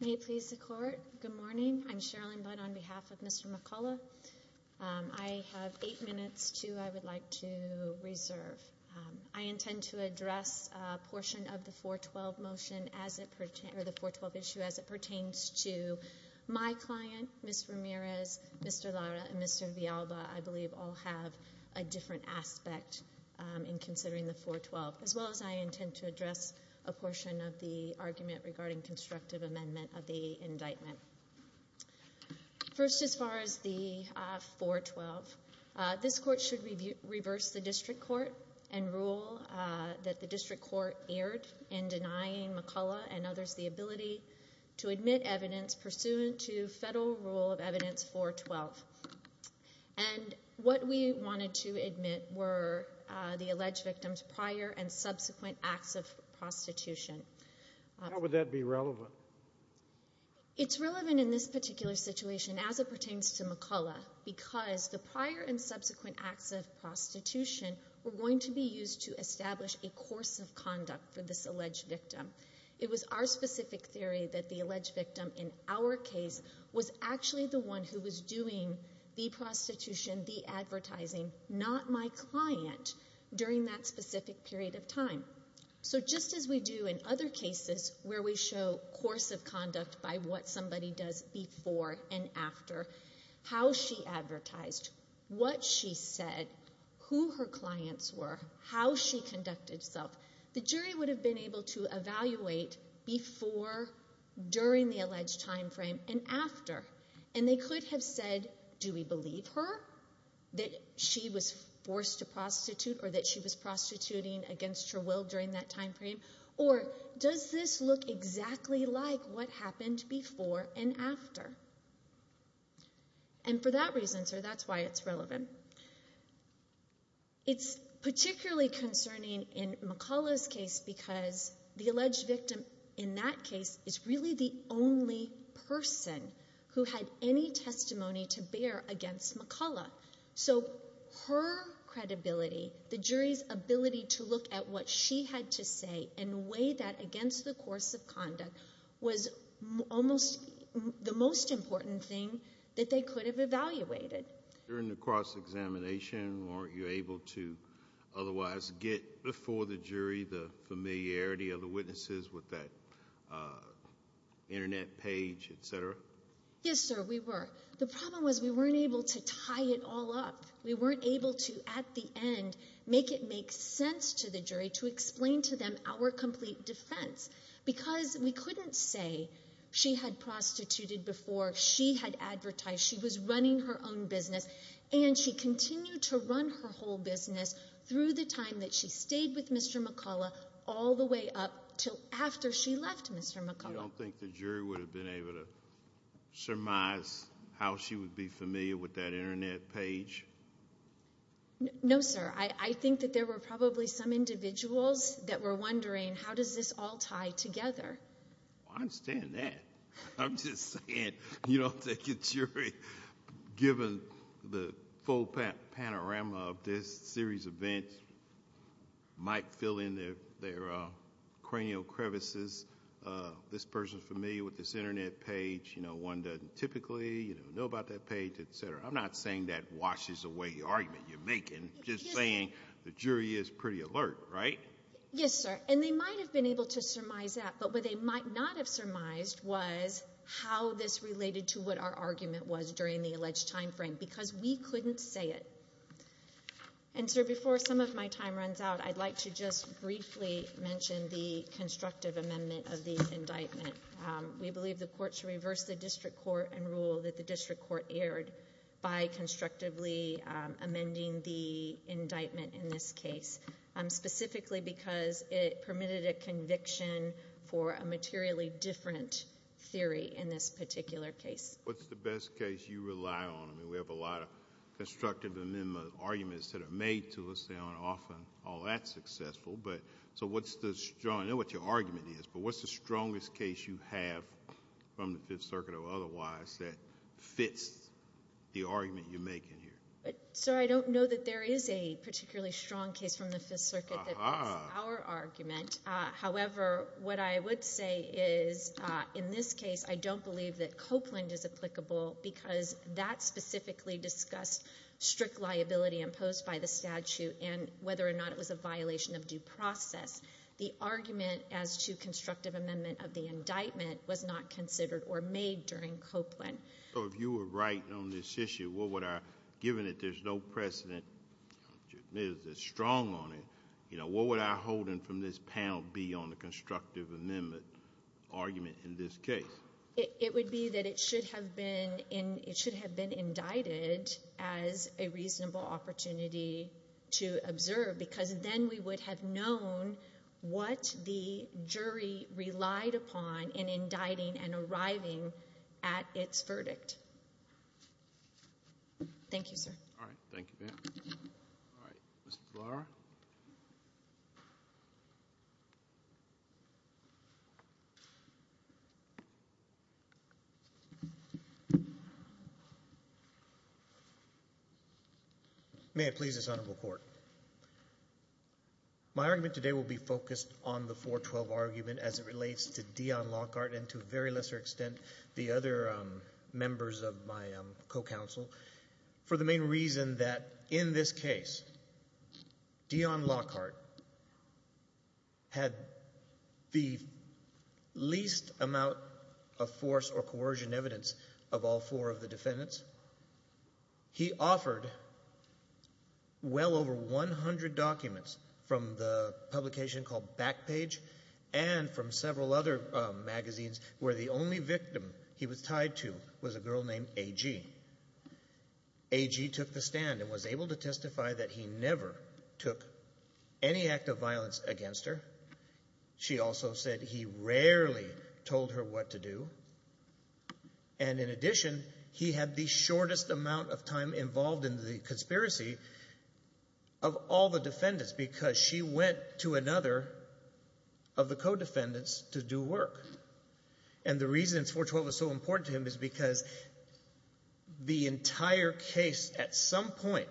May it please the Court, good morning, I'm Sherrilyn Budd on behalf of Mr. McCullough. I have eight minutes to, I would like to reserve. I intend to address a portion of the 412 motion as it pertains, or the 412 issue as it pertains to my client, Ms. Ramirez, Mr. Lara, and Mr. Villalba, I believe all have a different aspect in considering the 412, as well as I intend to address a portion of the argument regarding constructive amendment of the indictment. First as far as the 412, this Court should reverse the District Court and rule that the evidence pursuant to Federal Rule of Evidence 412. And what we wanted to admit were the alleged victim's prior and subsequent acts of prostitution. How would that be relevant? It's relevant in this particular situation as it pertains to McCullough, because the prior and subsequent acts of prostitution were going to be used to establish a course of conduct for this alleged victim. It was our specific theory that the alleged victim in our case was actually the one who was doing the prostitution, the advertising, not my client, during that specific period of time. So just as we do in other cases where we show course of conduct by what somebody does before and after, how she advertised, what she said, who her clients were, how she conducted herself, the jury would have been able to evaluate before, during the alleged time frame, and after. And they could have said, do we believe her, that she was forced to prostitute or that she was prostituting against her will during that time frame? Or does this look exactly like what happened before and after? And for that reason, sir, that's why it's relevant. And it's particularly concerning in McCullough's case because the alleged victim in that case is really the only person who had any testimony to bear against McCullough. So her credibility, the jury's ability to look at what she had to say and weigh that against the course of conduct was almost the most important thing that they could have evaluated. During the cross-examination, weren't you able to otherwise get before the jury the familiarity of the witnesses with that internet page, et cetera? Yes, sir, we were. The problem was we weren't able to tie it all up. We weren't able to, at the end, make it make sense to the jury to explain to them our complete defense. Because we couldn't say she had prostituted before, she had advertised, she was running her own business, and she continued to run her whole business through the time that she stayed with Mr. McCullough all the way up till after she left Mr. McCullough. You don't think the jury would have been able to surmise how she would be familiar with that internet page? No, sir. I think that there were probably some individuals that were wondering, how does this all tie together? I understand that. I'm just saying, you don't think the jury, given the full panorama of this series of events, might fill in their cranial crevices, this person is familiar with this internet page, one doesn't typically know about that page, et cetera. I'm not saying that washes away the argument you're making. Just saying the jury is pretty alert, right? Yes, sir. They might have been able to surmise that, but what they might not have surmised was how this related to what our argument was during the alleged timeframe, because we couldn't say it. Sir, before some of my time runs out, I'd like to just briefly mention the constructive amendment of the indictment. We believe the court should reverse the district court and rule that the district court erred by constructively amending the indictment in this case, specifically because it permitted a conviction for a materially different theory in this particular case. What's the best case you rely on? I mean, we have a lot of constructive amendment arguments that are made to us, they aren't often all that successful, but so what's the... I know what your argument is, but what's the strongest case you have from the Fifth Circuit or otherwise that fits the argument you're making here? Sir, I don't know that there is a particularly strong case from the Fifth Circuit that fits our argument, however, what I would say is in this case, I don't believe that Copeland is applicable because that specifically discussed strict liability imposed by the statute and whether or not it was a violation of due process. The argument as to constructive amendment of the indictment was not considered or made during Copeland. So, if you were right on this issue, what would our... given that there's no precedent that's strong on it, what would our holding from this panel be on the constructive amendment argument in this case? It would be that it should have been indicted as a reasonable opportunity to observe because then we would have known what the jury relied upon in indicting and arriving at its verdict. Thank you, sir. All right. Thank you, ma'am. All right. Mr. DeLauro? May it please this Honorable Court. My argument today will be focused on the 412 argument as it relates to Dion Lockhart and to a very lesser extent the other members of my co-counsel for the main reason that in this case, Dion Lockhart had the least amount of force or coercion evidence of all four of the defendants. He offered well over 100 documents from the publication called Backpage and from several other magazines where the only victim he was tied to was a girl named A.G. A.G. took the stand and was able to testify that he never took any act of violence against her. She also said he rarely told her what to do and in addition, he had the shortest amount of time involved in the conspiracy of all the defendants because she went to another of the co-defendants to do work. And the reason 412 is so important to him is because the entire case at some point,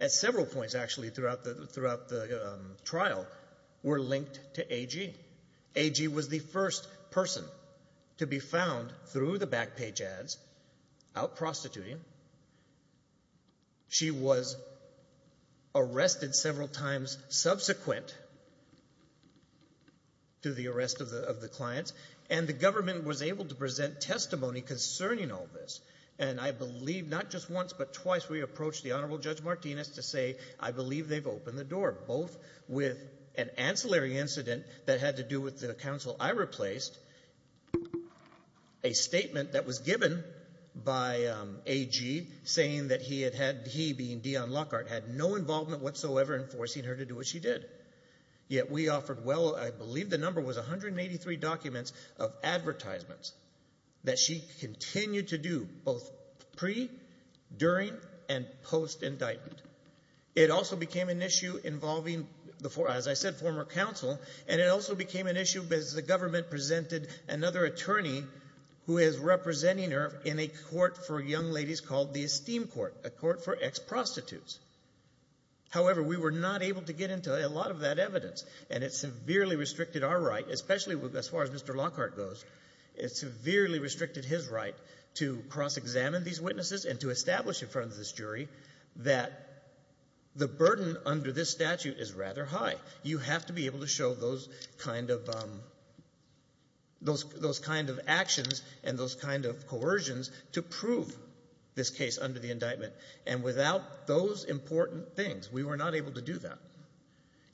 at several points actually throughout the trial, were linked to A.G. A.G. was the first person to be found through the Backpage ads out prostituting. She was arrested several times subsequent to the arrest of the clients and the government was able to present testimony concerning all this and I believe not just once but twice we approached the Honorable Judge Martinez to say, I believe they've opened the door both with an ancillary incident that had to do with the counsel I replaced, a statement that was given by A.G. saying that he had had, he being Dion Lockhart, had no involvement whatsoever in forcing her to do what she did. Yet we offered well, I believe the number was 183 documents of advertisements that she continued to do both pre, during and post indictment. It also became an issue involving, as I said, former counsel and it also became an issue as the government presented another attorney who is representing her in a court for young ladies called the Esteem Court, a court for ex-prostitutes. However we were not able to get into a lot of that evidence and it severely restricted our right, especially as far as Mr. Lockhart goes, it severely restricted his right to cross-examine these witnesses and to establish in front of this jury that the burden under this statute is rather high. You have to be able to show those kind of, those kind of actions and those kind of coercions to prove this case under the indictment and without those important things we were not able to do that.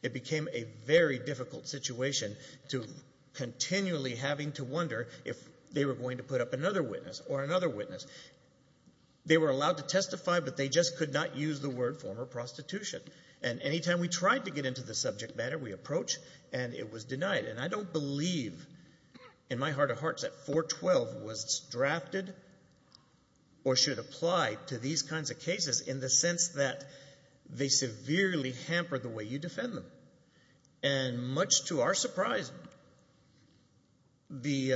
It became a very difficult situation to continually having to wonder if they were going to put up another witness or another witness. They were allowed to testify but they just could not use the word former prostitution and any time we tried to get into the subject matter, we approach and it was denied and I don't believe in my heart of hearts that 412 was drafted or should apply to these kinds of cases in the sense that they severely hampered the way you defend them and much to our surprise, the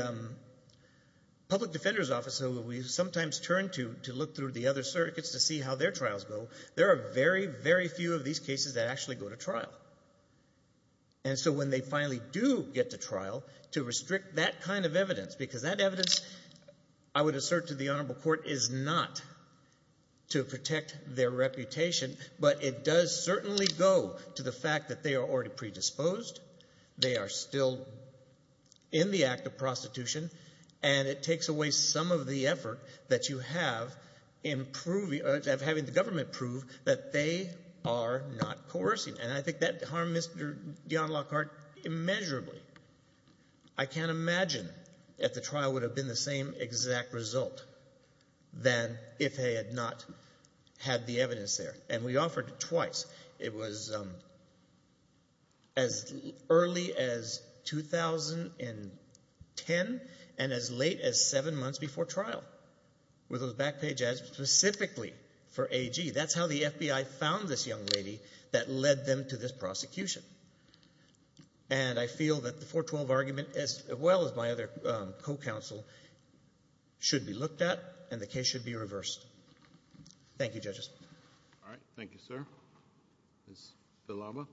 public defender's office that we sometimes turn to, to look through the other circuits to see how their trials go, there are very, very few of these cases that actually go to trial and so when they finally do get to trial, to restrict that kind of evidence because that evidence, I would assert to the honorable court, is not to protect their reputation but it does certainly go to the fact that they are already predisposed, they are still in the act of prostitution and it takes away some of the effort that you have of having the government prove that they are not coercing and I think that harmed Mr. Dion Lockhart immeasurably. I can't imagine that the trial would have been the same exact result than if they had not had the evidence there and we offered it twice. It was as early as 2010 and as late as seven months before trial with those back page ads specifically for AG. That's how the FBI found this young lady that led them to this prosecution. And I feel that the 412 argument, as well as my other co-counsel, should be looked at and the case should be reversed. Thank you judges. All right. Thank you, sir. Ms. Villalba.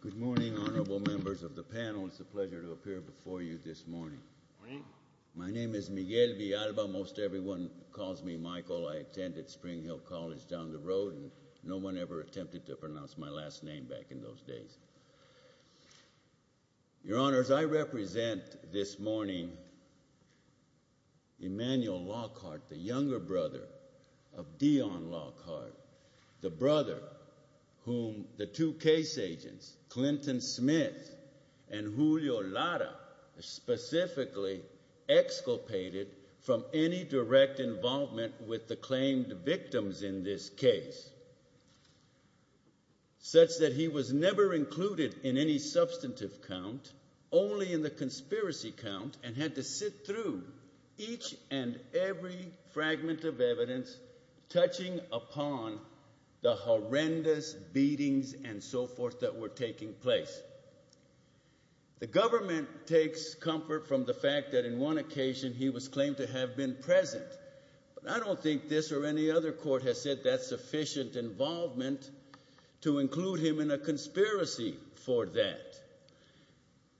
Good morning, honorable members of the panel. It's a pleasure to appear before you this morning. My name is Miguel Villalba. Most everyone calls me Michael. I attended Spring Hill College down the road and no one ever attempted to pronounce my last name back in those days. Your honors, I represent this morning Emmanuel Lockhart, the younger brother of Dion Lockhart, the brother whom the two case agents, Clinton Smith and Julio Lara, specifically exculpated from any direct involvement with the claimed victims in this case, such that he was never included in any substantive count, only in the conspiracy count, and had to sit through each and every fragment of evidence touching upon the horrendous beatings and so forth that were taking place. The government takes comfort from the fact that in one occasion he was claimed to have been present, but I don't think this or any other court has said that sufficient involvement to include him in a conspiracy for that.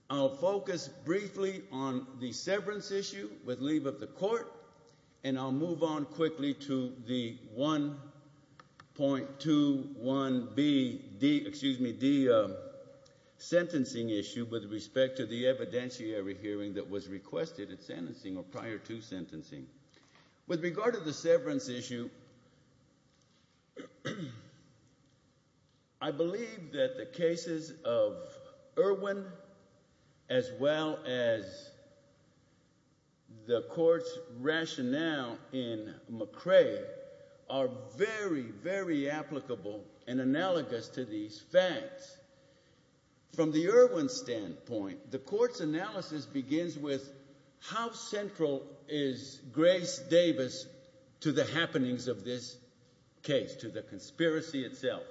I'll focus briefly on the severance issue with leave of the court, and I'll move on to the sentencing issue with respect to the evidentiary hearing that was requested at sentencing or prior to sentencing. With regard to the severance issue, I believe that the cases of Irwin as well as the court's From the Irwin standpoint, the court's analysis begins with how central is Grace Davis to the happenings of this case, to the conspiracy itself.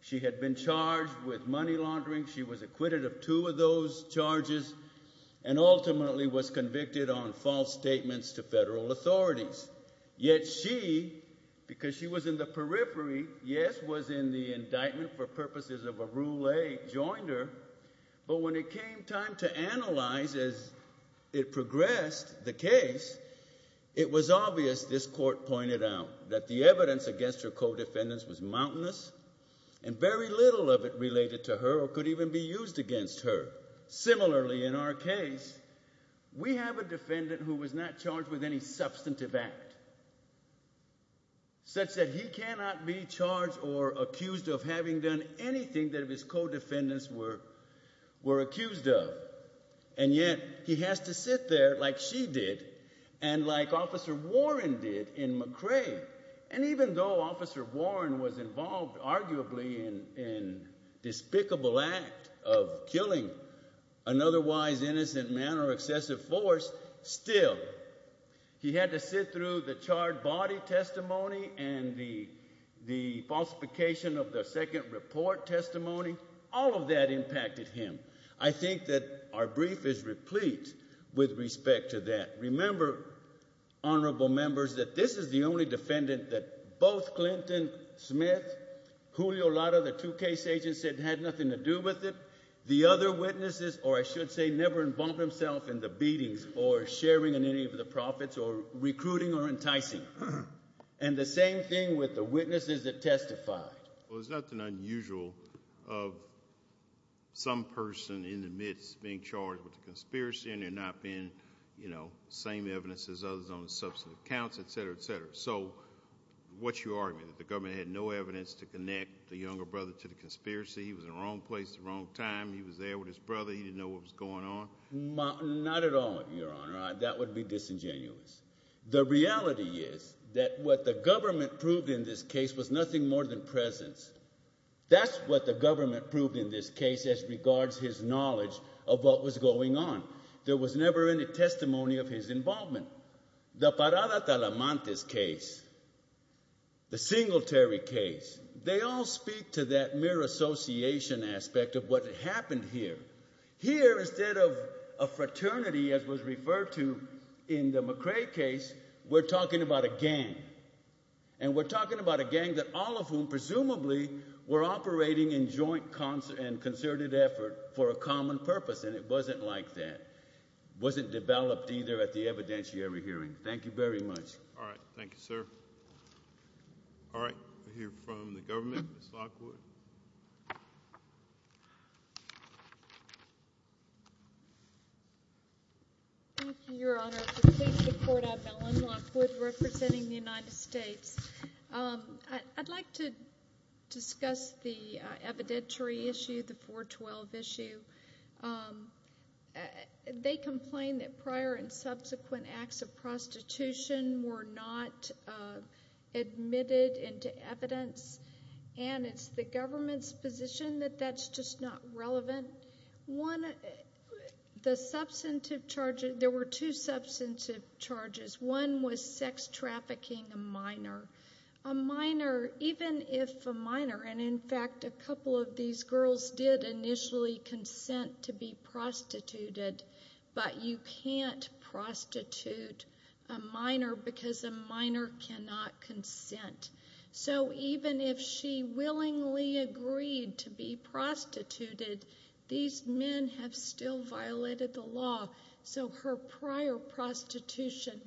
She had been charged with money laundering. She was acquitted of two of those charges and ultimately was convicted on false statements to federal authorities, yet she, because she was in the periphery, yes, was in the indictment for purposes of a Rule 8, joined her, but when it came time to analyze as it progressed the case, it was obvious, this court pointed out, that the evidence against her co-defendants was mountainous and very little of it related to her or could even be used against her. Similarly, in our case, we have a defendant who was not charged with any substantive act such that he cannot be charged or accused of having done anything that his co-defendants were accused of, and yet he has to sit there, like she did, and like Officer Warren did in McRae, and even though Officer Warren was involved, arguably, in despicable act of killing an otherwise innocent man or excessive force, still, he had to sit through the charred body testimony and the falsification of the second report testimony. All of that impacted him. I think that our brief is replete with respect to that. Remember, honorable members, that this is the only defendant that both Clinton Smith, Julio Lara, the two case agents said had nothing to do with it. The other witnesses, or I should say, never involved themselves in the beatings or sharing in any of the profits or recruiting or enticing. And the same thing with the witnesses that testified. Well, there's nothing unusual of some person in the midst being charged with a conspiracy and there not being, you know, same evidence as others on the substantive counts, etc., etc. So, what's your argument? That the government had no evidence to connect the younger brother to the conspiracy, he was in the wrong place at the wrong time, he was there with his brother, he didn't know what was going on? Not at all, your honor. That would be disingenuous. The reality is that what the government proved in this case was nothing more than presence. That's what the government proved in this case as regards his knowledge of what was going on. There was never any testimony of his involvement. The Parada-Talamantes case, the Singletary case, they all speak to that mere association aspect of what happened here. Here instead of a fraternity as was referred to in the McCrae case, we're talking about a gang. And we're talking about a gang that all of whom presumably were operating in joint concerted effort for a common purpose and it wasn't like that. It wasn't developed either at the evidentiary hearing. Thank you very much. All right. Thank you, sir. All right. We'll hear from the government. Ms. Lockwood. Thank you, your honor. I'm Mellon Lockwood representing the United States. I'd like to discuss the evidentiary issue, the 412 issue. They complained that prior and subsequent acts of prostitution were not admitted into evidence and it's the government's position that that's just not relevant. One, the substantive charges, there were two substantive charges. One was sex trafficking, a minor, a minor even if a minor and in fact a couple of these girls did initially consent to be prostituted but you can't prostitute a minor because a minor cannot consent. So even if she willingly agreed to be prostituted, these men have still violated the law. So her prior prostitution,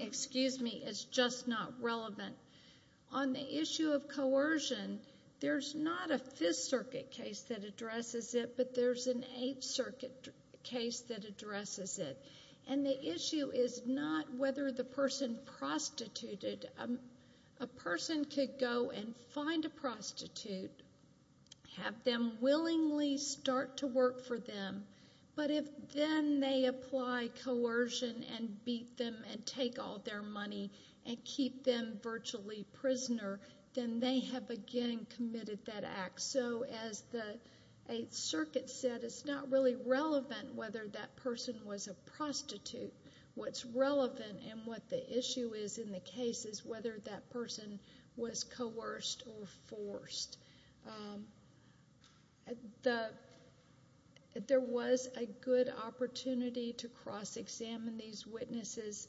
excuse me, is just not relevant. On the issue of coercion, there's not a Fifth Circuit case that addresses it but there's an Eighth Circuit case that addresses it. And the issue is not whether the person prostituted, a person could go and find a prostitute, have them willingly start to work for them but if then they apply coercion and beat them and take all their money and keep them virtually prisoner, then they have again committed that act. So as the Eighth Circuit said, it's not really relevant whether that person was a prostitute. What's relevant and what the issue is in the case is whether that person was coerced or forced. There was a good opportunity to cross-examine these witnesses.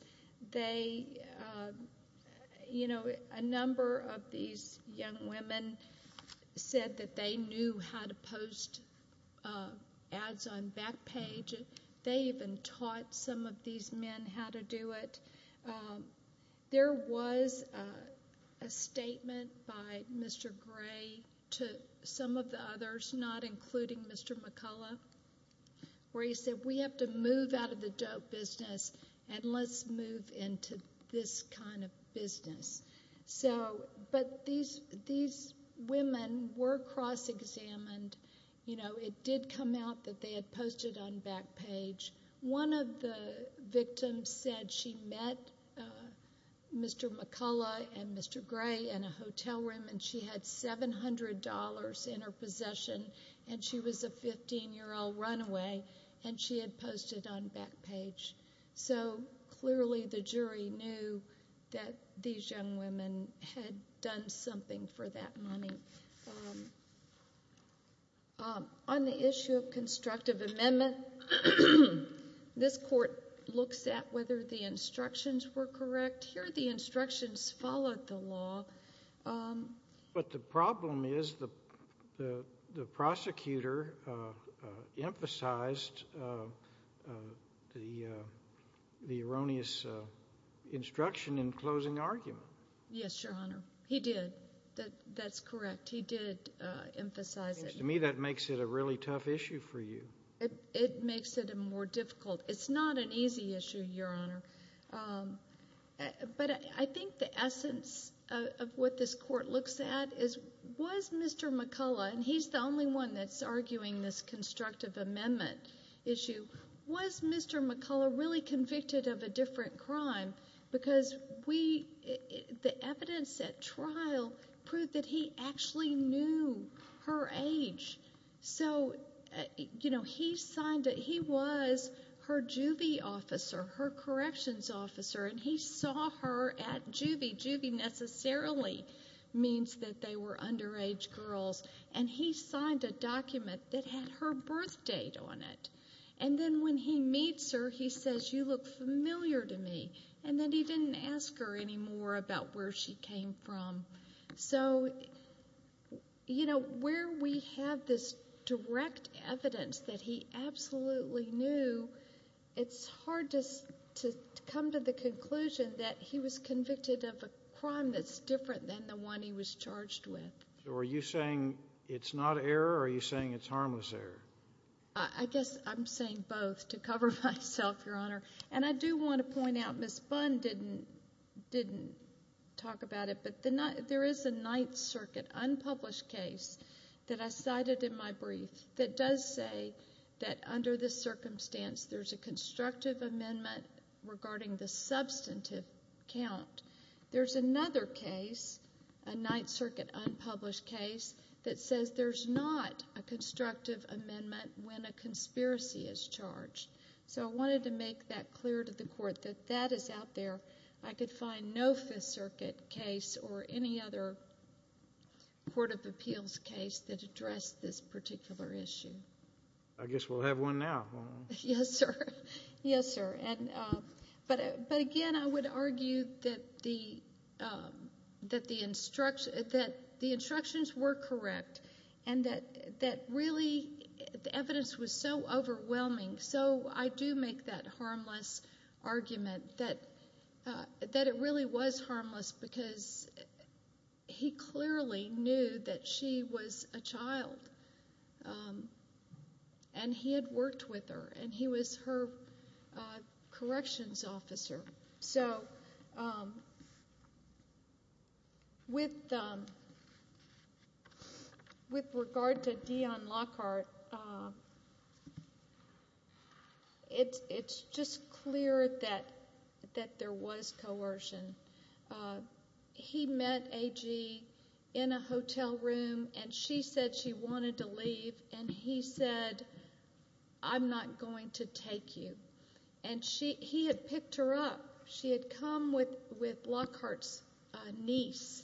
They, you know, a number of these young women said that they knew how to post ads on Backpage. They even taught some of these men how to do it. There was a statement by Mr. Gray to some of the others, not including Mr. McCullough, where he said, we have to move out of the dope business and let's move into this kind of business. So but these women were cross-examined. You know, it did come out that they had posted on Backpage. One of the victims said she met Mr. McCullough and Mr. Gray in a hotel room and she had $700 in her possession and she was a 15-year-old runaway and she had posted on Backpage. So clearly the jury knew that these young women had done something for that money. On the issue of constructive amendment, this court looks at whether the instructions were correct. Here the instructions followed the law. But the problem is the prosecutor emphasized the erroneous instruction in closing argument. Yes, Your Honor. He did. That's correct. He did emphasize it. It seems to me that makes it a really tough issue for you. It makes it more difficult. It's not an easy issue, Your Honor. But I think the essence of what this court looks at is, was Mr. McCullough, and he's the only one that's arguing this constructive amendment issue, was Mr. McCullough really And then when he meets her, he says, you look familiar to me, and then he didn't ask her any more about where she came from. So you know, where we have this direct evidence that he absolutely knew, it's hard to come to the conclusion that he was convicted of a crime that's different than the one he was charged with. So are you saying it's not error or are you saying it's harmless error? I guess I'm saying both to cover myself, Your Honor. And I do want to point out, Ms. Bunn didn't talk about it, but there is a Ninth Circuit unpublished case that I cited in my brief that does say that under this circumstance there's a constructive amendment regarding the substantive count. There's another case, a Ninth Circuit unpublished case, that says there's not a constructive amendment when a conspiracy is charged. So I wanted to make that clear to the Court that that is out there. I could find no Fifth Circuit case or any other Court of Appeals case that addressed this particular issue. I guess we'll have one now, won't we? Yes, sir. Yes, sir. But again, I would argue that the instructions were correct and that really the evidence was so overwhelming. So I do make that harmless argument that it really was harmless because he clearly knew that she was a child and he had worked with her and he was her corrections officer. So with regard to Dion Lockhart, it's just clear that there was coercion. He met A.G. in a hotel room and she said she wanted to leave and he said, I'm not going to take you. And he had picked her up. She had come with Lockhart's niece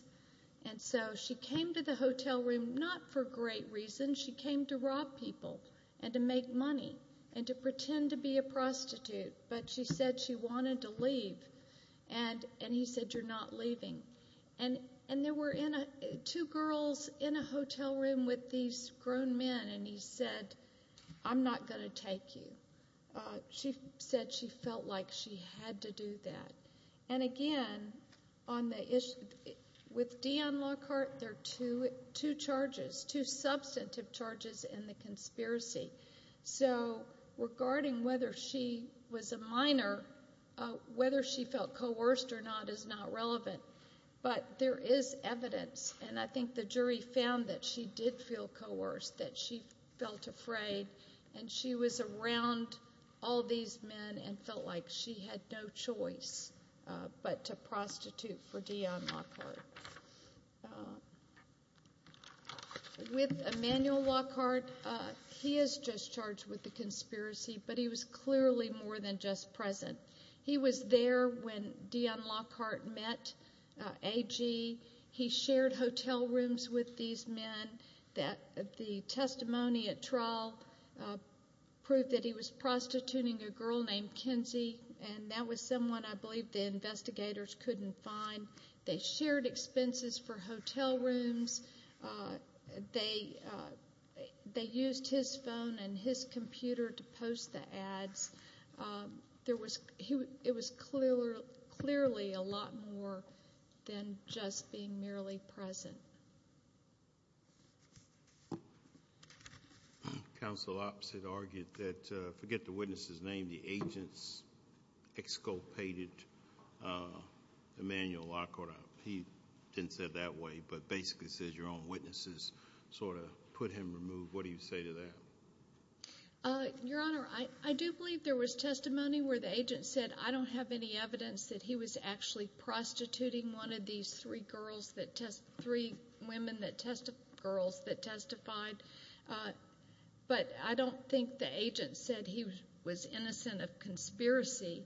and so she came to the hotel room not for great reason. She came to rob people and to make money and to pretend to be a prostitute, but she said she wanted to leave and he said, you're not leaving. And there were two girls in a hotel room with these grown men and he said, I'm not going to take you. She said she felt like she had to do that. And again, with Dion Lockhart, there are two charges, two substantive charges in the conspiracy. So regarding whether she was a minor, whether she felt coerced or not is not relevant. But there is evidence and I think the jury found that she did feel coerced, that she was around all these men and felt like she had no choice but to prostitute for Dion Lockhart. With Emmanuel Lockhart, he is just charged with the conspiracy, but he was clearly more than just present. He was there when Dion Lockhart met A.G. He shared hotel rooms with these men. The testimony at trial proved that he was prostituting a girl named Kenzie and that was someone I believe the investigators couldn't find. They shared expenses for hotel rooms. They used his phone and his computer to post the ads. It was clearly a lot more than just being merely present. Counsel Oppsitt argued that, forget the witness's name, the agents exculpated Emmanuel Lockhart. He didn't say it that way, but basically says your own witnesses sort of put him removed. What do you say to that? Your Honor, I do believe there was testimony where the agent said, I don't have any evidence that he was actually prostituting one of these three girls that testified. But I don't think the agent said he was innocent of conspiracy,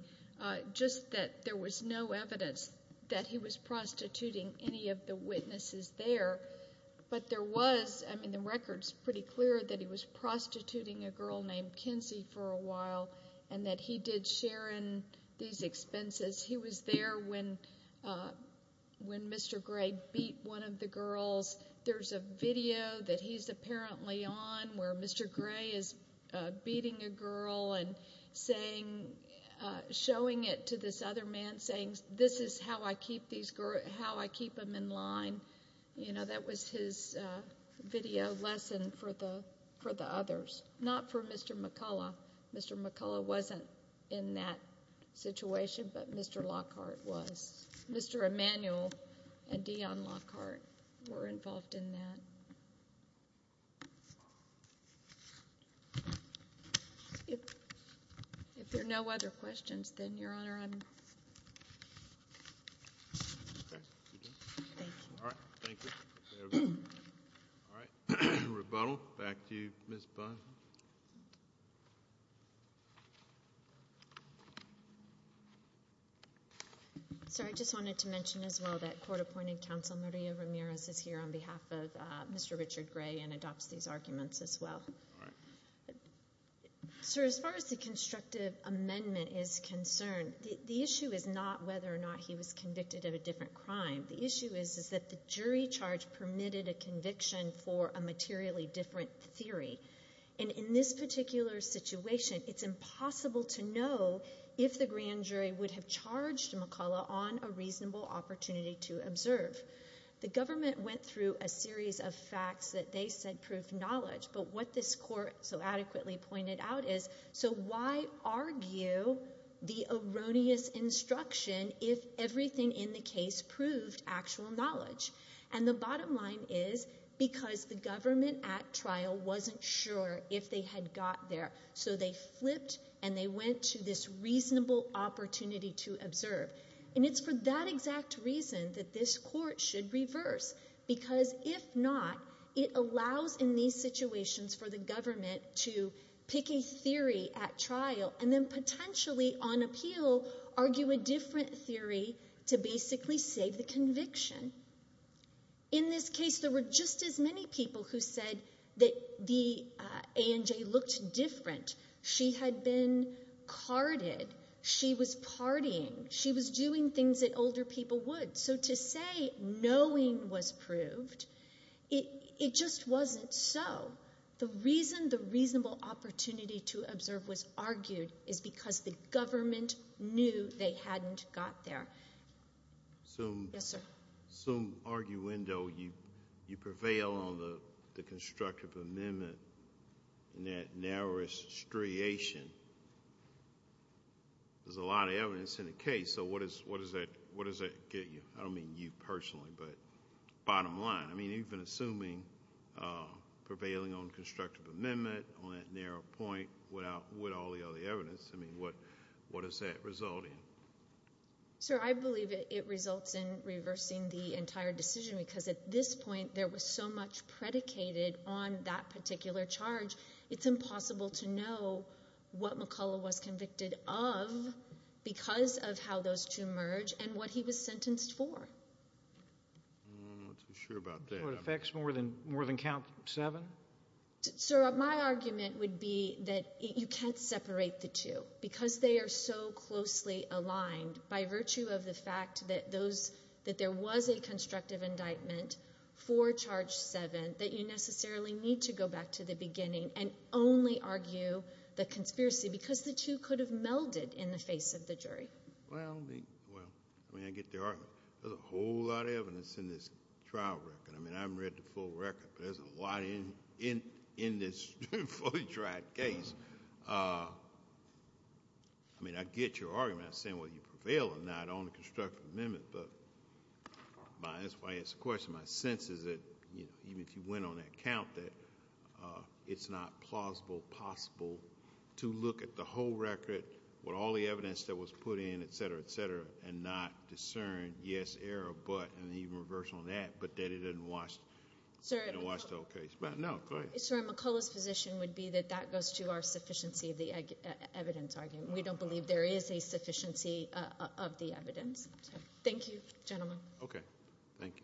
just that there was no evidence that he was prostituting any of the witnesses there. But there was, I mean the record's pretty clear that he was prostituting a girl named Kenzie for a while and that he did share in these expenses. He was there when Mr. Gray beat one of the girls. There's a video that he's apparently on where Mr. Gray is beating a girl and showing it to this other man saying, this is how I keep these girls, how I keep them in line. You know, that was his video lesson for the others, not for Mr. McCullough. Mr. McCullough wasn't in that situation, but Mr. Lockhart was. Mr. Emmanuel and Dion Lockhart were involved in that. If there are no other questions, then Your Honor, I'm. Thank you. All right. Thank you. All right. Rebuttal. Back to you, Ms. Bunn. Sorry. I just wanted to mention as well that court-appointed counsel Maria Ramirez is here on behalf of Mr. Richard Gray and adopts these arguments as well. Sir, as far as the constructive amendment is concerned, the issue is not whether or not he was convicted of a different crime. The issue is that the jury charge permitted a conviction for a materially different theory. In this particular situation, it's impossible to know if the grand jury would have charged McCullough on a reasonable opportunity to observe. The government went through a series of facts that they said proved knowledge, but what this court so adequately pointed out is, so why argue the erroneous instruction if everything in the case proved actual knowledge? And the bottom line is because the government at trial wasn't sure if they had got there, so they flipped and they went to this reasonable opportunity to observe. And it's for that exact reason that this court should reverse because if not, it allows in these situations for the government to pick a theory at trial and then potentially on appeal argue a different theory to basically save the conviction. In this case, there were just as many people who said that the ANJ looked different. She had been carded. She was partying. She was doing things that older people would. So to say knowing was proved, it just wasn't so. The reason the reasonable opportunity to observe was argued is because the government knew they hadn't got there. Yes, sir? Some arguendo, you prevail on the constructive amendment in that narrowest striation. There's a lot of evidence in the case, so what does that get you? I don't mean you personally, but bottom line. I mean, even assuming prevailing on constructive amendment on that narrow point with all the other evidence, I mean, what does that result in? Sir, I believe it results in reversing the entire decision because at this point, there was so much predicated on that particular charge, it's impossible to know whether the McCullough was convicted of because of how those two merge and what he was sentenced for. I'm not too sure about that. So it affects more than count seven? Sir, my argument would be that you can't separate the two because they are so closely aligned by virtue of the fact that there was a constructive indictment for charge seven that you necessarily need to go back to the beginning and only argue the conspiracy because the two could have melded in the face of the jury. Well, I mean, I get your argument. There's a whole lot of evidence in this trial record. I mean, I haven't read the full record, but there's a lot in this fully tried case. I mean, I get your argument saying whether you prevail or not on the constructive amendment, but that's why I asked the question. My sense is that even if you went on that count, that it's not plausible possible to look at the whole record with all the evidence that was put in, et cetera, et cetera, and not discern yes, error, but, and even reverse on that, but that it didn't wash the whole case. No, go ahead. Sir, McCullough's position would be that that goes to our sufficiency of the evidence argument. We don't believe there is a sufficiency of the evidence. Thank you, gentlemen. Okay, thank you.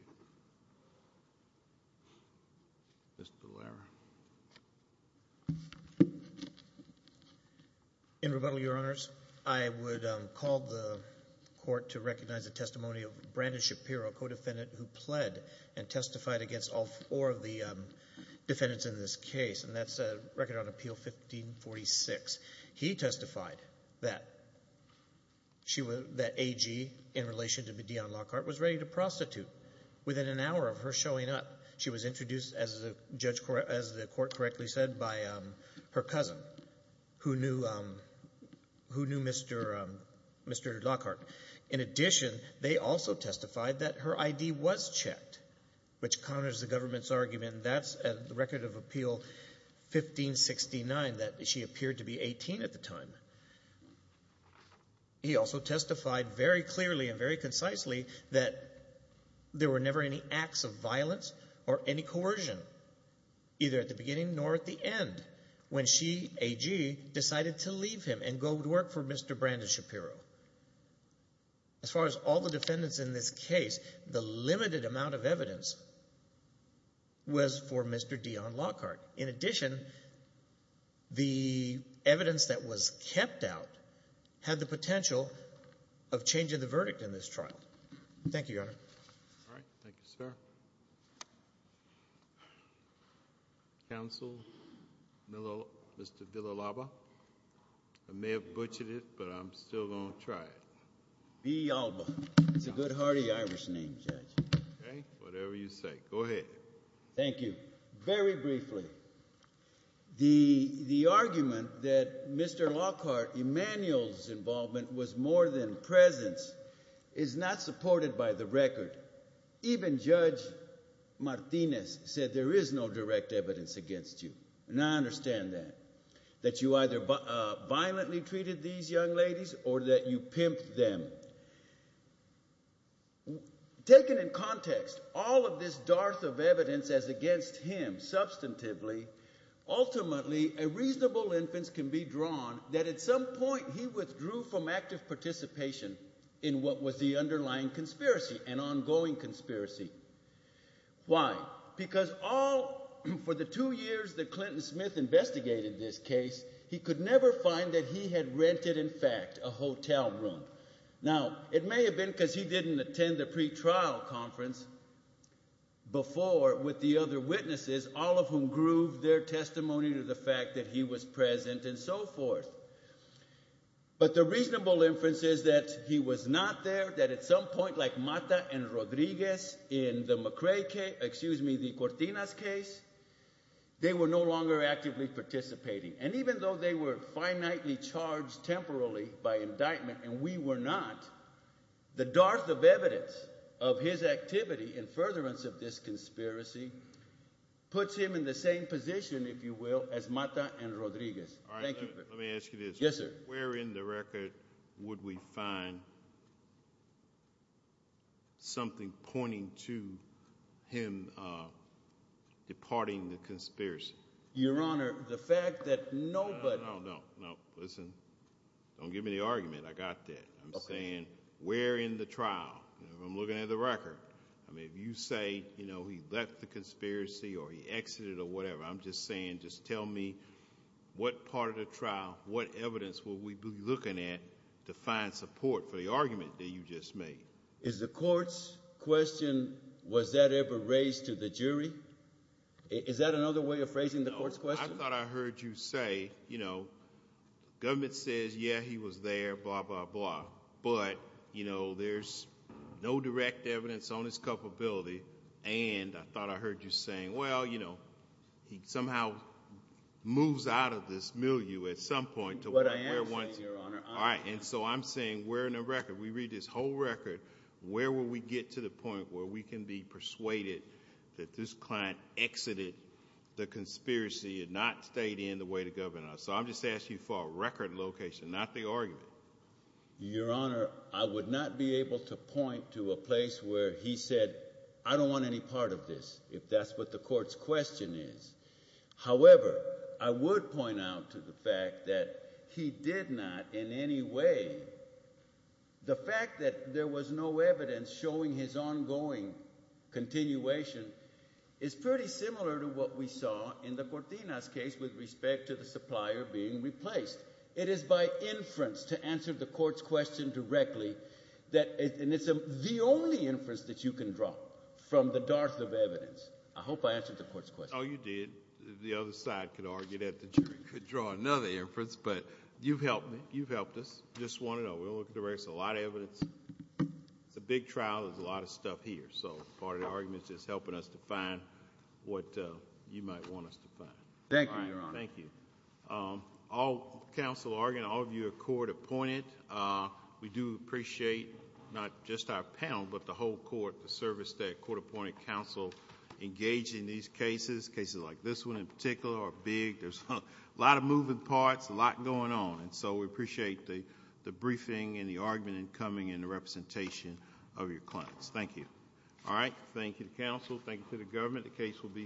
Mr. Boulware. In rebuttal, your honors, I would call the court to recognize the testimony of Brandon Shapiro, co-defendant who pled and testified against all four of the defendants in this case, and that's a record on appeal 1546. He testified that she was, that AG in relation to Medeon Lockhart was ready to prostitute within an hour of her showing up. She was introduced, as the court correctly said, by her cousin who knew Mr. Lockhart. In addition, they also testified that her ID was checked, which counters the government's argument. That's the record of appeal 1569, that she appeared to be 18 at the time. He also testified very clearly and very concisely that there were never any acts of violence or any coercion, either at the beginning nor at the end, when she, AG, decided to leave him and go to work for Mr. Brandon Shapiro. As far as all the defendants in this case, the limited amount of evidence was for Mr. Deon Lockhart. In addition, the evidence that was kept out had the potential of changing the verdict in this trial. Thank you, Your Honor. All right. Thank you, sir. Counsel, Mr. Villalaba. I may have butchered it, but I'm still going to try it. Villalba. It's a good, hearty Irish name, Judge. Okay. Whatever you say. Go ahead. Thank you. Very briefly, the argument that Mr. Lockhart, Emmanuel's involvement was more than presence is not supported by the record. Even Judge Martinez said there is no direct evidence against you, and I understand that, that you either violently treated these young ladies or that you pimped them. Taken in context, all of this dearth of evidence as against him, substantively, ultimately, a reasonable inference can be drawn that at some point he withdrew from active participation in what was the underlying conspiracy, an ongoing conspiracy. Why? Because all, for the two years that Clinton Smith investigated this case, he could never find that he had rented, in fact, a hotel room. Now, it may have been because he didn't attend the pre-trial conference before with the other witnesses, all of whom grooved their testimony to the fact that he was present and so forth. But the reasonable inference is that he was not there, that at some point, like Mata and Rodriguez in the McCray case, excuse me, the Cortinas case, they were no longer actively participating. And even though they were finitely charged temporally by indictment and we were not, the dearth of evidence of his activity in furtherance of this conspiracy puts him in the same position, if you will, as Mata and Rodriguez. All right, let me ask you this. Yes, sir. Where in the record would we find something pointing to him departing the conspiracy? Your Honor, the fact that nobody... No, no, no, no. Listen, don't give me the argument. I got that. I'm saying, where in the trial? I'm looking at the record. I mean, if you say he left the conspiracy or he exited or whatever, I'm just saying, just tell me what part of the trial, what evidence would we be looking at to find support for the argument that you just made? Is the court's question, was that ever raised to the jury? Is that another way of phrasing the court's question? No, I thought I heard you say, you know, government says, yeah, he was there, blah, blah, blah. But, you know, there's no direct evidence on his culpability. And I thought I heard you saying, well, you know, he somehow moves out of this milieu at some point to... What I am saying, Your Honor... All right. And so I'm saying, where in the record? We read this whole record. Where will we get to the point where we can be persuaded that this client exited the conspiracy and not stayed in the way to govern us? So I'm just asking you for a record location, not the argument. Your Honor, I would not be able to point to a place where he said, I don't want any part of this, if that's what the court's question is. However, I would point out to the fact that he did not in any way... No evidence showing his ongoing continuation is pretty similar to what we saw in the Cortina's case with respect to the supplier being replaced. It is by inference to answer the court's question directly that... And it's the only inference that you can draw from the darth of evidence. I hope I answered the court's question. Oh, you did. The other side could argue that the jury could draw another inference. But you've helped me. You've helped us. Just want to know. We're looking for a lot of evidence. It's a big trial. There's a lot of stuff here. So part of the argument is just helping us to find what you might want us to find. Thank you, Your Honor. Thank you. All counsel arguing, all of you are court appointed. We do appreciate, not just our panel, but the whole court, the service that court appointed counsel engaged in these cases. Cases like this one in particular are big. There's a lot of moving parts, a lot going on. We appreciate the briefing and the argument in coming and the representation of your clients. Thank you. All right. Thank you to counsel. Thank you to the government. The case will be submitted.